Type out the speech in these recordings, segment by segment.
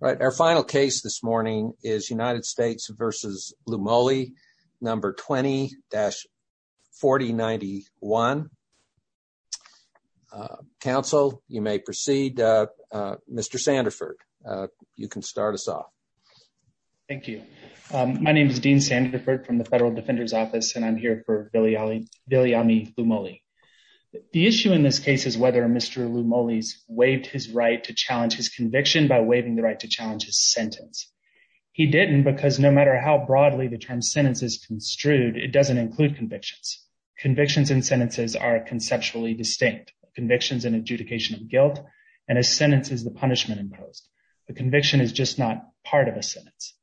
Our final case this morning is United States v. Loumoli, No. 20-4091. Counsel, you may proceed. Mr. Sandiford, you can start us off. Thank you. My name is Dean Sandiford from the Federal Defender's Office, and I'm here for Vilayami Loumoli. The issue in this case is whether Mr. Loumoli waived his right to challenge his conviction by waiving the right to challenge his sentence. He didn't because no matter how broadly the term sentence is construed, it doesn't include convictions. Convictions and sentences are conceptually distinct. Convictions and adjudication of guilt, and a sentence is the punishment imposed. A conviction is just not part of a sentence.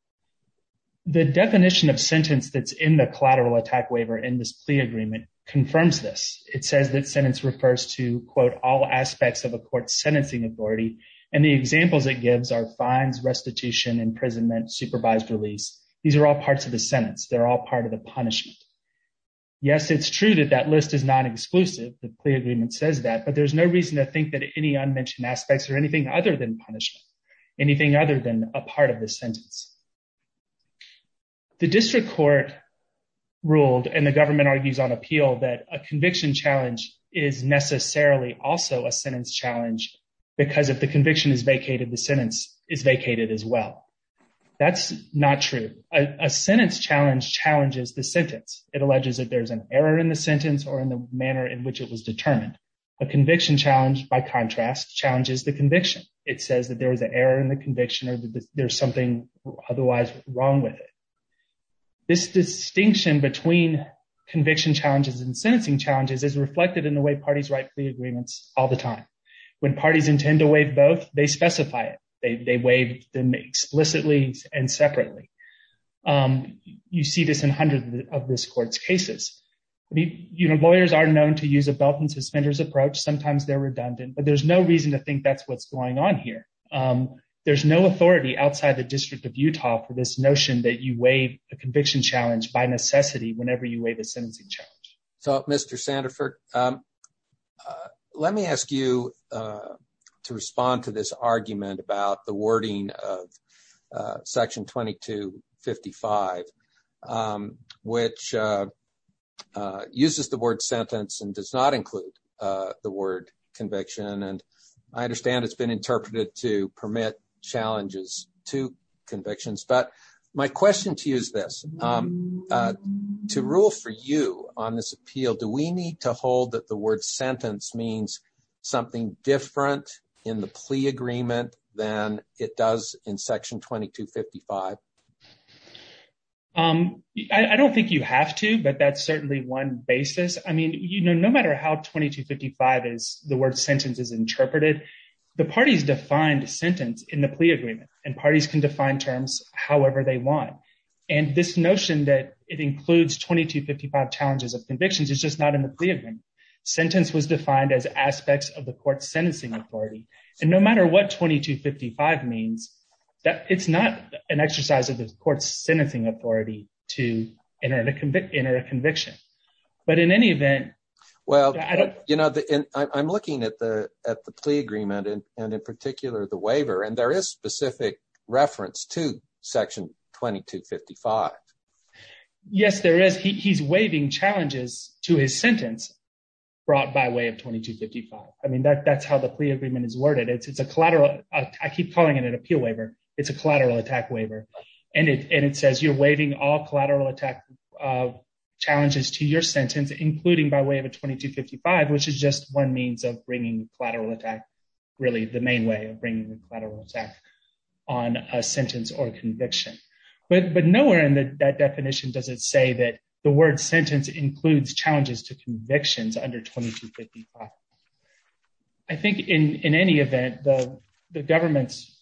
The definition of sentence that's in the collateral attack waiver in this plea agreement confirms this. It says that sentence refers to, quote, all aspects of a court's sentencing authority. And the examples it gives are fines, restitution, imprisonment, supervised release. These are all parts of the sentence. They're all part of the punishment. Yes, it's true that that list is not exclusive. The plea agreement says that, but there's no reason to think that any unmentioned aspects are anything other than punishment, anything other than a part of the sentence. The district court ruled and the government argues on appeal that a conviction challenge is necessarily also a sentence challenge because if the conviction is vacated, the sentence is vacated as well. That's not true. A sentence challenge challenges the sentence. It alleges that there's an error in the sentence or in the manner in which it was determined. A conviction challenge, by contrast, challenges the conviction. It says that there was an error in the conviction or that there's something otherwise wrong with it. This distinction between conviction challenges and sentencing challenges is reflected in the way parties write plea agreements all the time. When parties intend to waive both, they specify it. They waive them explicitly and separately. You see this in hundreds of this court's cases. I mean, you know, lawyers are known to use a belt and suspenders approach. Sometimes they're redundant, but there's no reason to think that's what's going on here. There's no authority outside the district of Utah for this notion that you waive a conviction challenge by necessity whenever you waive a sentencing charge. So, Mr. Sandefur, let me ask you to respond to this argument about the wording of Section 2255, which uses the word sentence and does not include the word conviction. And I understand it's been interpreted to permit challenges to convictions. But my question to you is this to rule for you on this appeal. Do we need to hold that the word sentence means something different in the plea agreement than it does in Section 2255? I don't think you have to, but that's certainly one basis. I mean, you know, no matter how 2255 is the word sentence is interpreted, the parties defined sentence in the plea agreement and parties can define terms however they want. And this notion that it includes 2255 challenges of convictions is just not in the plea agreement. Sentence was defined as aspects of the court's sentencing authority. And no matter what 2255 means, it's not an exercise of the court's sentencing authority to enter a conviction. But in any event, well, you know, I'm looking at the plea agreement and in particular the waiver, and there is specific reference to Section 2255. Yes, there is. He's waiving challenges to his sentence brought by way of 2255. I mean, that's how the plea agreement is worded. It's a collateral. I keep calling it an appeal waiver. It's a collateral attack waiver. And it says you're waiving all collateral attack challenges to your sentence, including by way of a 2255, which is just one means of bringing collateral attack. Really, the main way of bringing the collateral attack on a sentence or conviction. But nowhere in that definition does it say that the word sentence includes challenges to convictions under 2255. I think in any event, the government's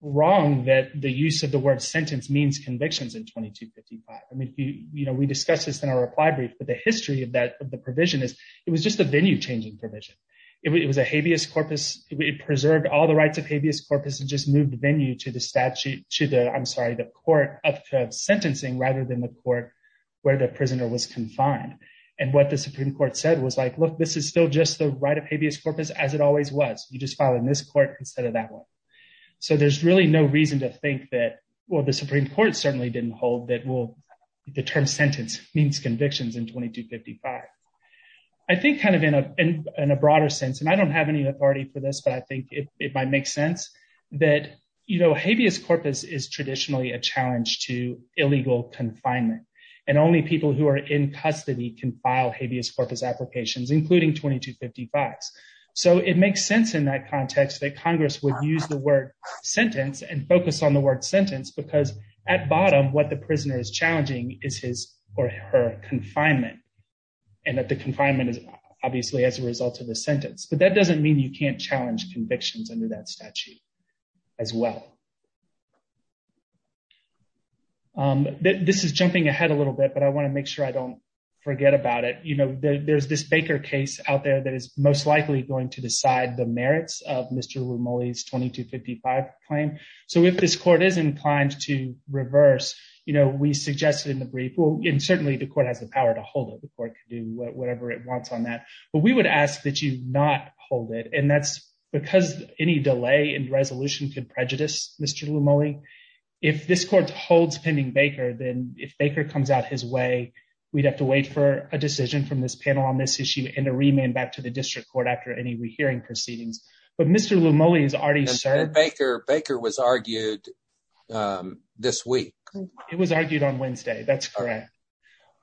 wrong that the use of the word sentence means convictions in 2255. I mean, you know, we discussed this in our reply brief, but the history of that provision is it was just a venue changing provision. It was a habeas corpus. It preserved all the rights of habeas corpus and just moved the venue to the statute to the I'm sorry, the court of sentencing rather than the court where the prisoner was confined. And what the Supreme Court said was like, look, this is still just the right of habeas corpus as it always was. You just filed in this court instead of that one. So there's really no reason to think that, well, the Supreme Court certainly didn't hold that will the term sentence means convictions in 2255. I think kind of in a broader sense, and I don't have any authority for this, but I think it might make sense that, you know, habeas corpus is traditionally a challenge to illegal confinement. And only people who are in custody can file habeas corpus applications, including 2255. So it makes sense in that context that Congress would use the word sentence and focus on the word sentence because at bottom what the prisoner is challenging is his or her confinement. And that the confinement is obviously as a result of the sentence, but that doesn't mean you can't challenge convictions under that statute as well. This is jumping ahead a little bit, but I want to make sure I don't forget about it. You know, there's this Baker case out there that is most likely going to decide the merits of Mr. Romali's 2255 claim. So if this court is inclined to reverse, you know, we suggested in the brief. And certainly the court has the power to hold it. The court can do whatever it wants on that. But we would ask that you not hold it. And that's because any delay in resolution could prejudice Mr. Romali. If this court holds pending Baker, then if Baker comes out his way, we'd have to wait for a decision from this panel on this issue and a remand back to the district court after any rehearing proceedings. But Mr. Romali is already served. Baker was argued this week. It was argued on Wednesday. That's correct.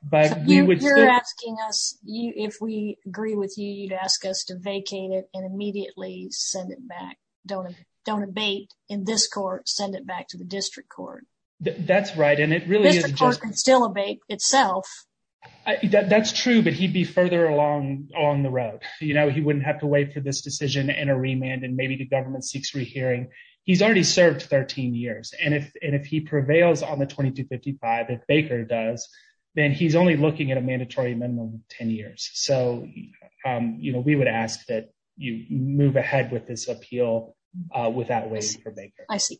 But you're asking us if we agree with you, you'd ask us to vacate it and immediately send it back. Don't don't abate in this court. Send it back to the district court. That's right. And it really is still abate itself. That's true. But he'd be further along on the road. You know, he wouldn't have to wait for this decision and a remand. And maybe the government seeks rehearing. He's already served 13 years. And if and if he prevails on the 2255, if Baker does, then he's only looking at a mandatory minimum of 10 years. So, you know, we would ask that you move ahead with this appeal without waiting for Baker. I see.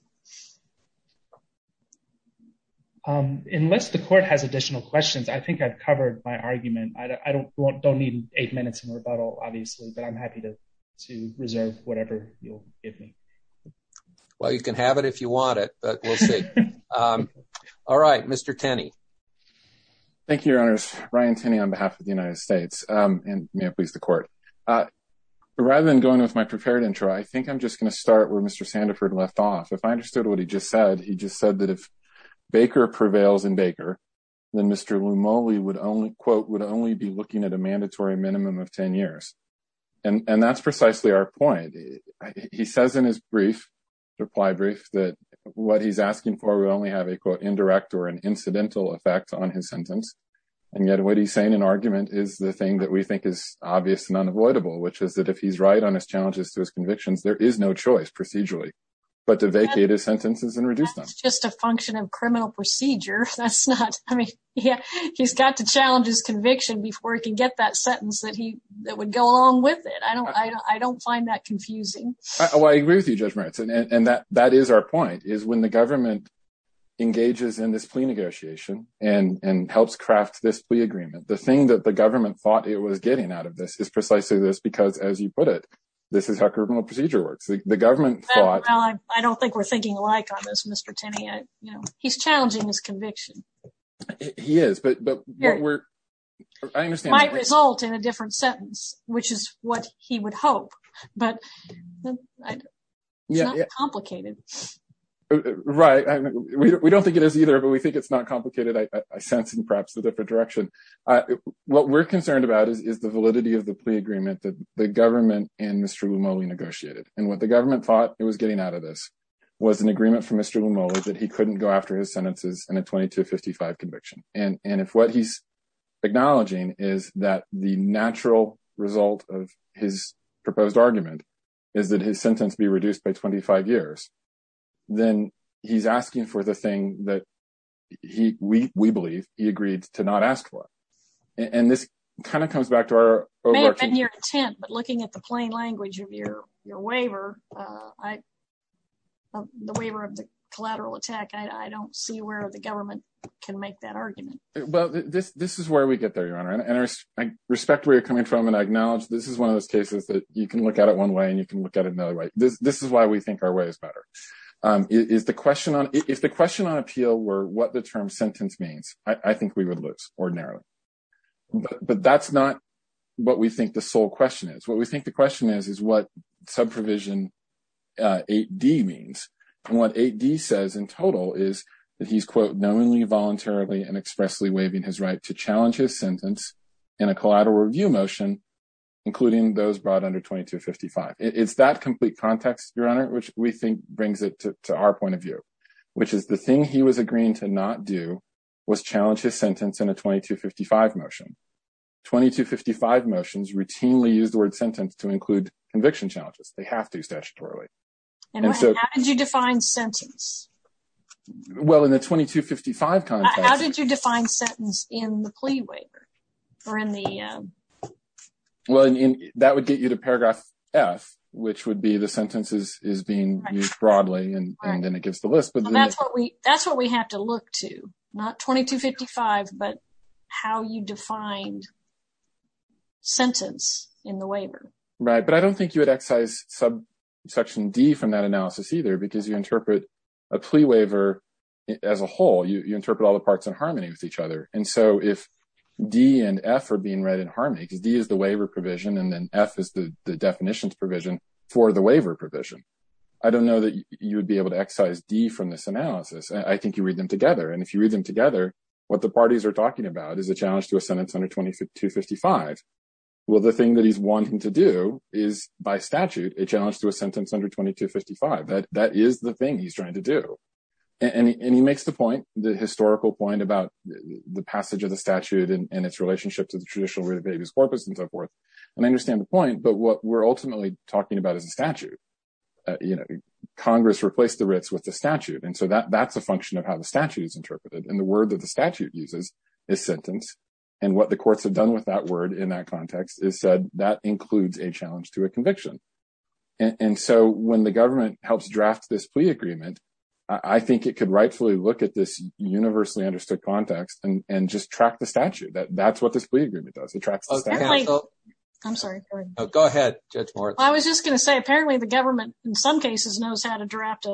Unless the court has additional questions, I think I've covered my argument. I don't want don't need eight minutes in rebuttal, obviously, but I'm happy to to reserve whatever you'll give me. Well, you can have it if you want it. All right. Mr. Tenney. Thank you, your honors. Ryan Tenney, on behalf of the United States, and may it please the court. Rather than going with my prepared intro, I think I'm just going to start where Mr. Sandiford left off. If I understood what he just said, he just said that if Baker prevails in Baker, then Mr. Mowley would only quote would only be looking at a mandatory minimum of 10 years. And that's precisely our point. He says in his brief reply brief that what he's asking for. We only have a quote, indirect or an incidental effect on his sentence. And yet what he's saying in argument is the thing that we think is obvious and unavoidable, which is that if he's right on his challenges to his convictions, there is no choice procedurally. But to vacate his sentences and reduce them. Just a function of criminal procedure. That's not I mean, yeah, he's got to challenge his conviction before he can get that sentence that he that would go along with it. I don't I don't find that confusing. Oh, I agree with you, Judge Merritt. And that that is our point is when the government engages in this plea negotiation and helps craft this plea agreement. The thing that the government thought it was getting out of this is precisely this, because, as you put it, this is how criminal procedure works. The government thought, I don't think we're thinking alike on this, Mr. Timmy. You know, he's challenging his conviction. He is. But we're I understand my result in a different sentence, which is what he would hope. But it's complicated. Right. We don't think it is either, but we think it's not complicated. I sense in perhaps a different direction. What we're concerned about is the validity of the plea agreement that the government and Mr. Mowley negotiated and what the government thought it was getting out of this was an agreement from Mr. Mowley that he couldn't go after his sentences and a twenty to fifty five conviction. And if what he's acknowledging is that the natural result of his proposed argument is that his sentence be reduced by twenty five years. Then he's asking for the thing that he we believe he agreed to not ask for. And this kind of comes back to our work and your intent. But looking at the plain language of your your waiver, I the waiver of the collateral attack. I don't see where the government can make that argument. Well, this this is where we get there, Your Honor. And I respect where you're coming from. And I acknowledge this is one of those cases that you can look at it one way and you can look at it another way. This is why we think our way is better. Is the question on if the question on appeal were what the term sentence means, I think we would lose ordinarily. But that's not what we think the sole question is. What we think the question is, is what sub provision D means. And what he says in total is that he's, quote, knowingly, voluntarily and expressly waiving his right to challenge his sentence in a collateral review motion, including those brought under twenty to fifty five. It's that complete context, Your Honor, which we think brings it to our point of view, which is the thing he was agreeing to not do was challenge his sentence in a twenty to fifty five motion. Twenty to fifty five motions routinely use the word sentence to include conviction challenges. They have to statutorily. And so how did you define sentence? Well, in the twenty to fifty five, how did you define sentence in the plea waiver or in the. Well, that would get you to paragraph F, which would be the sentences is being used broadly and then it gives the list. But that's what we that's what we have to look to. Not twenty to fifty five, but how you define sentence in the waiver. Right. But I don't think you would excise sub section D from that analysis either, because you interpret a plea waiver as a whole. You interpret all the parts in harmony with each other. And so if D and F are being read in harmony, because D is the waiver provision and then F is the definitions provision for the waiver provision. I don't know that you would be able to excise D from this analysis. I think you read them together. And if you read them together, what the parties are talking about is a challenge to a sentence under twenty to fifty five. Well, the thing that he's wanting to do is, by statute, a challenge to a sentence under twenty to fifty five. That is the thing he's trying to do. And he makes the point, the historical point about the passage of the statute and its relationship to the traditional way, the baby's corpus and so forth. And I understand the point. But what we're ultimately talking about is a statute. Congress replaced the writs with the statute. And so that that's a function of how the statute is interpreted. And the word that the statute uses is sentence. And what the courts have done with that word in that context is said that includes a challenge to a conviction. And so when the government helps draft this plea agreement, I think it could rightfully look at this universally understood context and just track the statute that that's what this agreement does. It tracks. I'm sorry. Go ahead, Judge. I was just going to say, apparently, the government in some cases knows how to draft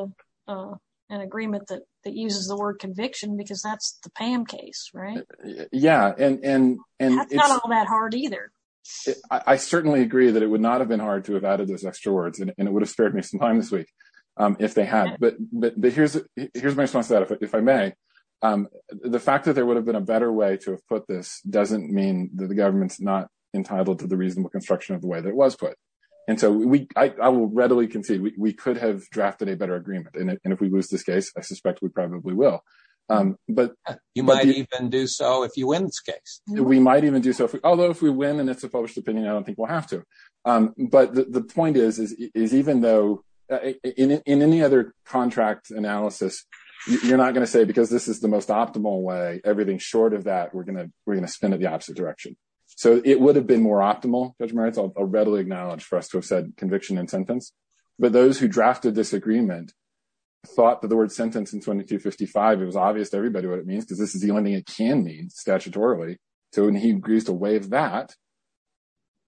an agreement that that uses the word conviction because that's the PAM case. Right. Yeah. And that's not all that hard either. I certainly agree that it would not have been hard to have added those extra words and it would have spared me some time this week if they had. But but here's here's my response to that. If I may. The fact that there would have been a better way to put this doesn't mean that the government's not entitled to the reasonable construction of the way that was put. And so we I will readily concede we could have drafted a better agreement. And if we lose this case, I suspect we probably will. But you might even do so if you win this case. We might even do so. Although if we win and it's a published opinion, I don't think we'll have to. But the point is, is even though in any other contract analysis, you're not going to say because this is the most optimal way, everything short of that, we're going to we're going to spin in the opposite direction. So it would have been more optimal. Judge Merritt's a readily acknowledged for us to have said conviction and sentence. But those who drafted this agreement thought that the word sentence in 2255, it was obvious to everybody what it means, because this is the only thing it can mean statutorily. So when he agrees to waive that,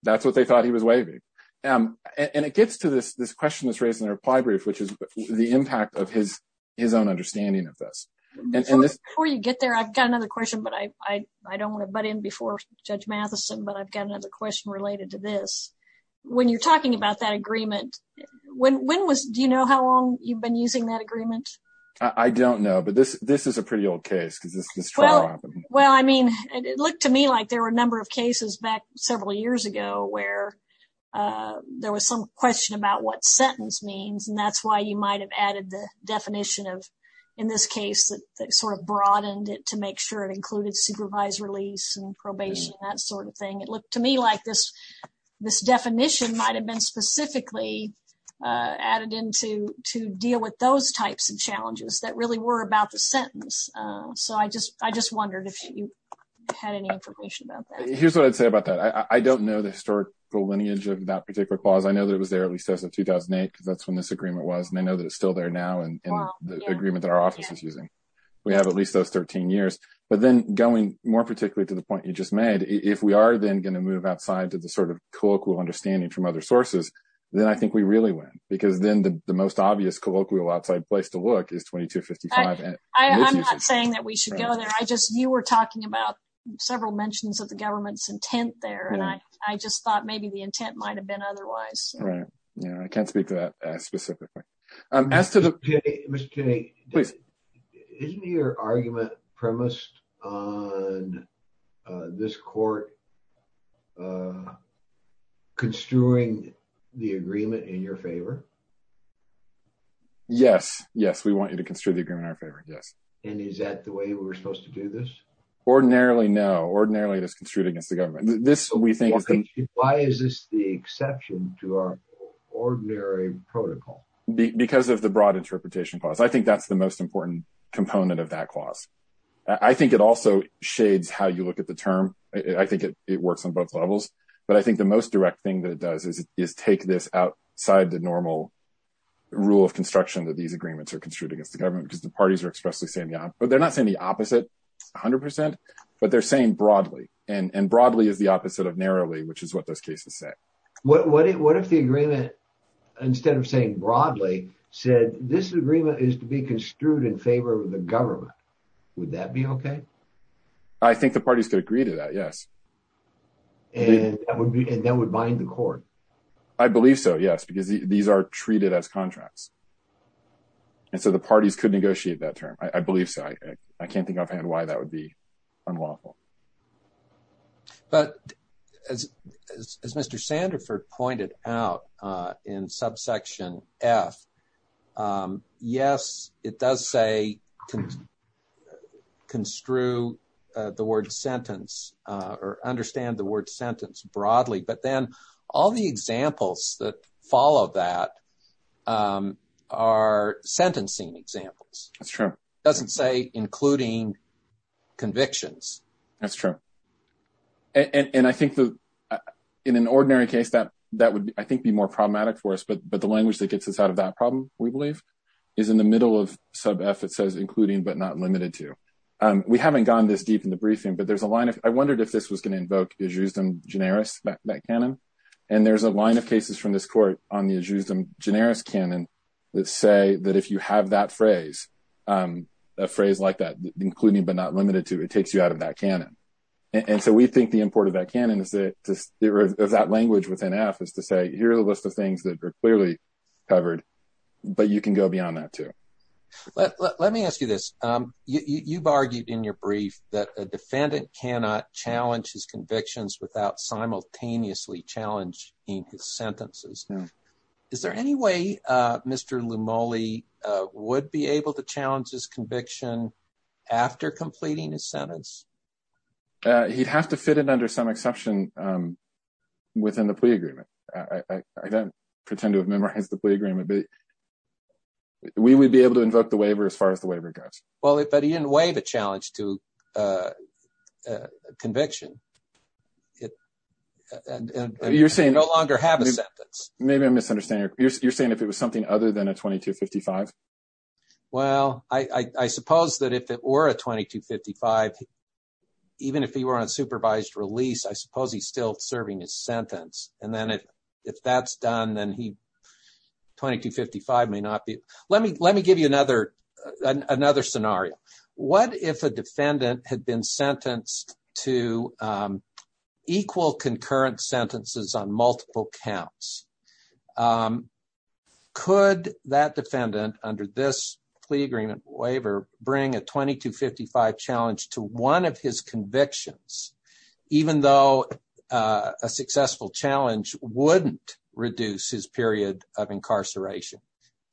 that's what they thought he was waiving. And it gets to this this question that's raised in the reply brief, which is the impact of his his own understanding of this. Before you get there, I've got another question, but I I don't want to butt in before Judge Matheson, but I've got another question related to this. When you're talking about that agreement, when when was do you know how long you've been using that agreement? I don't know. But this this is a pretty old case. Well, I mean, it looked to me like there were a number of cases back several years ago where there was some question about what sentence means. And that's why you might have added the definition of in this case that sort of broadened it to make sure it included supervised release and probation, that sort of thing. It looked to me like this. This definition might have been specifically added into to deal with those types of challenges that really were about the sentence. So I just I just wondered if you had any information about that. Here's what I'd say about that. I don't know the historical lineage of that particular clause. I know that it was there at least as of 2008. That's when this agreement was. And I know that it's still there now. And the agreement that our office is using. We have at least those 13 years, but then going more particularly to the point you just made, if we are then going to move outside to the sort of colloquial understanding from other sources, then I think we really win because then the most obvious colloquial outside place to look is 2255. I'm not saying that we should go there. I just you were talking about several mentions of the government's intent there. And I, I just thought maybe the intent might have been otherwise. Right. Yeah, I can't speak to that specifically. I'm asked to the mistake. Isn't your argument premised on this court construing the agreement in your favor. Yes, yes, we want you to construe the agreement in our favor. Yes. And is that the way we're supposed to do this. Ordinarily no ordinarily it is construed against the government, this we think. Why is this the exception to our ordinary protocol, because of the broad interpretation clause I think that's the most important component of that clause. I think it also shades how you look at the term, I think it works on both levels, but I think the most direct thing that it does is, is take this outside the normal rule of construction that these agreements are construed against the government because the parties are expressly saying yeah, but they're not saying the opposite. 100%, but they're saying broadly and broadly is the opposite of narrowly which is what those cases say, what if the agreement. Instead of saying broadly said this agreement is to be construed in favor of the government. Would that be okay. I think the parties could agree to that. Yes. And that would be and that would bind the court. I believe so yes because these are treated as contracts. And so the parties could negotiate that term, I believe, so I can't think I've had why that would be unlawful. But, as, as Mr Sandefur pointed out in subsection F. Yes, it does say construe the word sentence, or understand the word sentence broadly but then all the examples that follow that are sentencing examples. That's true. Doesn't say, including convictions. That's true. And I think that in an ordinary case that that would, I think, be more problematic for us but but the language that gets us out of that problem, we believe, is in the middle of sub effort says including but not limited to. We haven't gone this deep in the briefing but there's a line of, I wondered if this was going to invoke is used in generous back that canon. And there's a line of cases from this court on the is used in generous canon. Let's say that if you have that phrase, a phrase like that, including but not limited to it takes you out of that canon. And so we think the important that can and is that there is that language within F is to say here's a list of things that are clearly covered. But you can go beyond that too. Let me ask you this. You've argued in your brief that a defendant cannot challenge his convictions without simultaneously challenge in his sentences. Is there any way. Mr. Lee Molly would be able to challenge his conviction. After completing his sentence. He'd have to fit it under some exception within the plea agreement. I don't pretend to have memorized the plea agreement, but we would be able to invoke the waiver as far as the waiver goes. Well, if he didn't wave a challenge to conviction. You're saying no longer have a sentence. Maybe I'm misunderstanding. You're saying if it was something other than a 2255. Well, I suppose that if it were a 2255, even if he were on supervised release, I suppose he's still serving his sentence. And then if if that's done, then he 2255 may not be. Let me let me give you another another scenario. What if a defendant had been sentenced to equal concurrent sentences on multiple counts? Could that defendant under this plea agreement waiver bring a 2255 challenge to one of his convictions, even though a successful challenge wouldn't reduce his period of incarceration?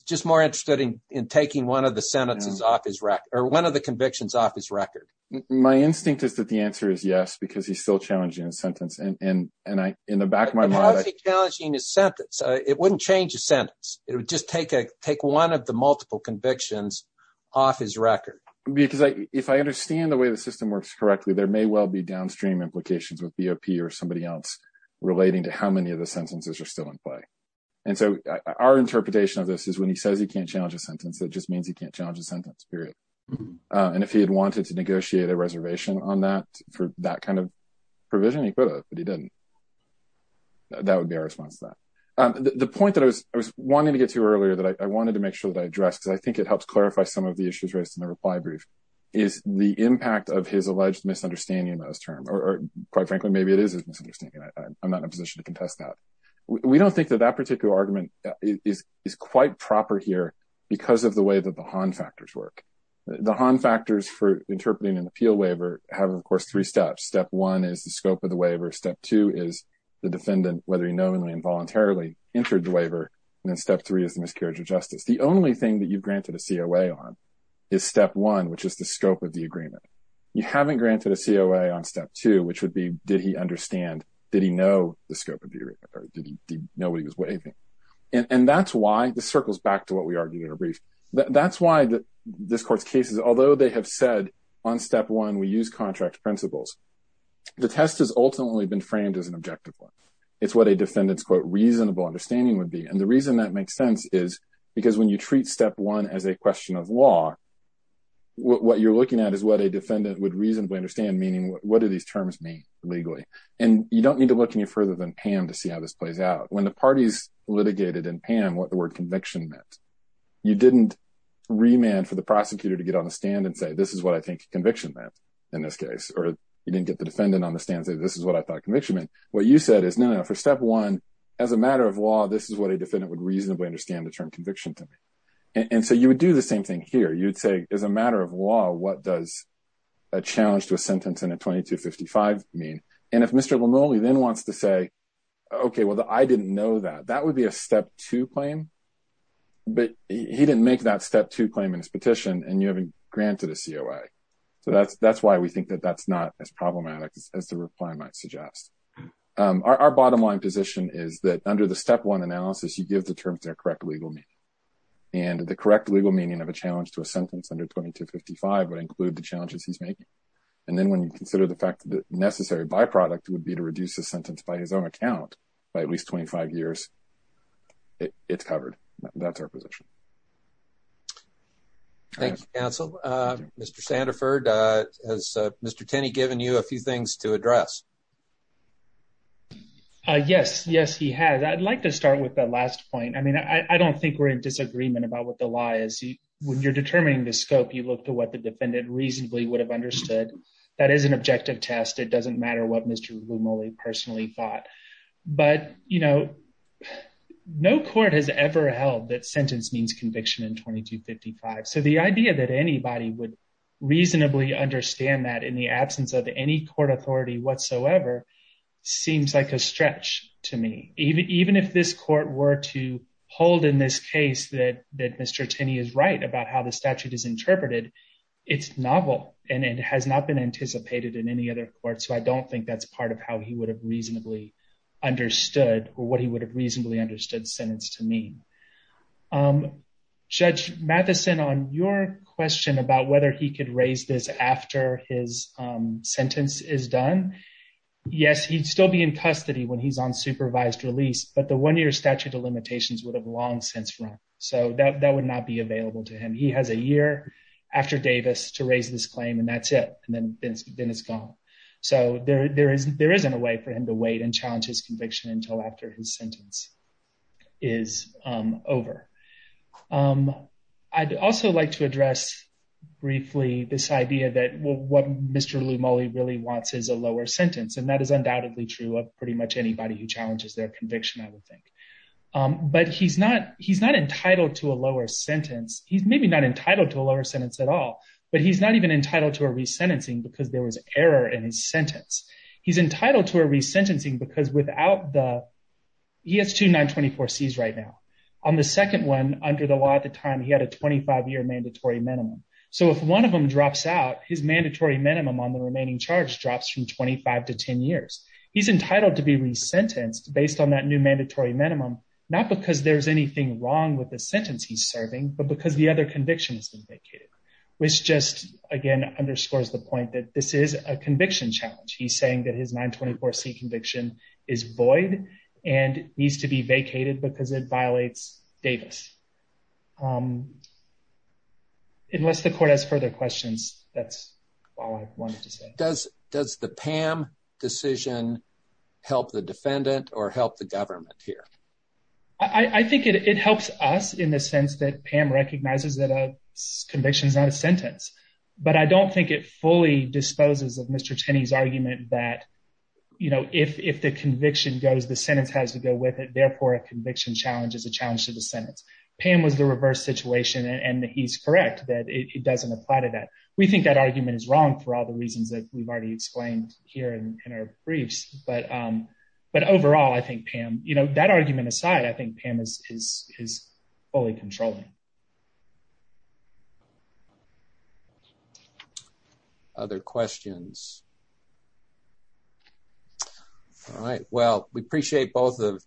Just more interested in taking one of the sentences off his rack or one of the convictions off his record. My instinct is that the answer is yes, because he's still challenging a sentence. And in the back of my mind, he's challenging his sentence. It wouldn't change a sentence. It would just take a take one of the multiple convictions off his record. Because if I understand the way the system works correctly, there may well be downstream implications with BOP or somebody else relating to how many of the sentences are still in play. And so our interpretation of this is when he says he can't challenge a sentence, that just means he can't challenge a sentence period. And if he had wanted to negotiate a reservation on that for that kind of provision, he could have, but he didn't. That would be our response to that. The point that I was I was wanting to get to earlier that I wanted to make sure that I address, because I think it helps clarify some of the issues raised in the reply brief, is the impact of his alleged misunderstanding. Or, quite frankly, maybe it is a misunderstanding. I'm not in a position to contest that. We don't think that that particular argument is quite proper here because of the way that the Han factors work. The Han factors for interpreting an appeal waiver have, of course, three steps. Step one is the scope of the waiver. Step two is the defendant, whether he knowingly or involuntarily entered the waiver. And then step three is the miscarriage of justice. The only thing that you've granted a COA on is step one, which is the scope of the agreement. You haven't granted a COA on step two, which would be, did he understand, did he know the scope of the agreement, or did he know what he was waiving? And that's why this circles back to what we argued in a brief. That's why this court's cases, although they have said on step one, we use contract principles, the test has ultimately been framed as an objective one. It's what a defendant's, quote, reasonable understanding would be. And the reason that makes sense is because when you treat step one as a question of law, what you're looking at is what a defendant would reasonably understand, meaning what do these terms mean legally? And you don't need to look any further than Pam to see how this plays out. When the parties litigated in Pam what the word conviction meant, you didn't remand for the prosecutor to get on the stand and say, this is what I think conviction meant in this case. Or you didn't get the defendant on the stand and say, this is what I thought conviction meant. What you said is, no, no, for step one, as a matter of law, this is what a defendant would reasonably understand the term conviction to mean. And so you would do the same thing here. You would say, as a matter of law, what does a challenge to a sentence in a 2255 mean? And if Mr. Romoli then wants to say, OK, well, I didn't know that, that would be a step two claim. But he didn't make that step two claim in his petition and you haven't granted a COA. So that's that's why we think that that's not as problematic as the reply might suggest. Our bottom line position is that under the step one analysis, you give the terms their correct legal meaning. And the correct legal meaning of a challenge to a sentence under 2255 would include the challenges he's making. And then when you consider the fact that the necessary byproduct would be to reduce the sentence by his own account by at least 25 years, it's covered. That's our position. Thank you, counsel. Mr. Sandiford, has Mr. Tenney given you a few things to address? Yes, yes, he has. I'd like to start with the last point. I mean, I don't think we're in disagreement about what the law is. When you're determining the scope, you look to what the defendant reasonably would have understood. That is an objective test. It doesn't matter what Mr. Romoli personally thought. But, you know, no court has ever held that sentence means conviction in 2255. So the idea that anybody would reasonably understand that in the absence of any court authority whatsoever seems like a stretch to me, even if this court were to hold in this case that that Mr. Tenney is right about how the statute is interpreted. It's novel and it has not been anticipated in any other court. So I don't think that's part of how he would have reasonably understood or what he would have reasonably understood sentence to me. Judge Matheson on your question about whether he could raise this after his sentence is done. Yes, he'd still be in custody when he's on supervised release. But the one year statute of limitations would have long since run. So that would not be available to him. He has a year after Davis to raise this claim and that's it. And then it's gone. So there isn't a way for him to wait and challenge his conviction until after his sentence is over. I'd also like to address briefly this idea that what Mr. Romoli really wants is a lower sentence. And that is undoubtedly true of pretty much anybody who challenges their conviction, I would think. But he's not he's not entitled to a lower sentence. He's maybe not entitled to a lower sentence at all. But he's not even entitled to a resentencing because there was error in his sentence. He's entitled to a resentencing because without the he has to 924 C's right now on the second one under the law at the time he had a 25 year mandatory minimum. So if one of them drops out, his mandatory minimum on the remaining charge drops from 25 to 10 years. He's entitled to be resentenced based on that new mandatory minimum, not because there's anything wrong with the sentence he's serving, but because the other conviction has been vacated, which just again underscores the point that this is a conviction challenge. He's saying that his 924 C conviction is void and needs to be vacated because it violates Davis. Unless the court has further questions, that's all I wanted to say. Does the PAM decision help the defendant or help the government here? I think it helps us in the sense that Pam recognizes that a conviction is not a sentence. But I don't think it fully disposes of Mr. Tenney's argument that if the conviction goes, the sentence has to go with it. Therefore, a conviction challenge is a challenge to the sentence. Pam was the reverse situation and he's correct that it doesn't apply to that. We think that argument is wrong for all the reasons that we've already explained here in our briefs. But overall, I think Pam, that argument aside, I think Pam is fully controlling. Other questions? All right. Well, we appreciate both of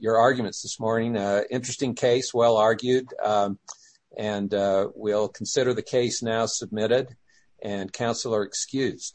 your arguments this morning. Interesting case, well argued, and we'll consider the case now submitted and counsel are excused.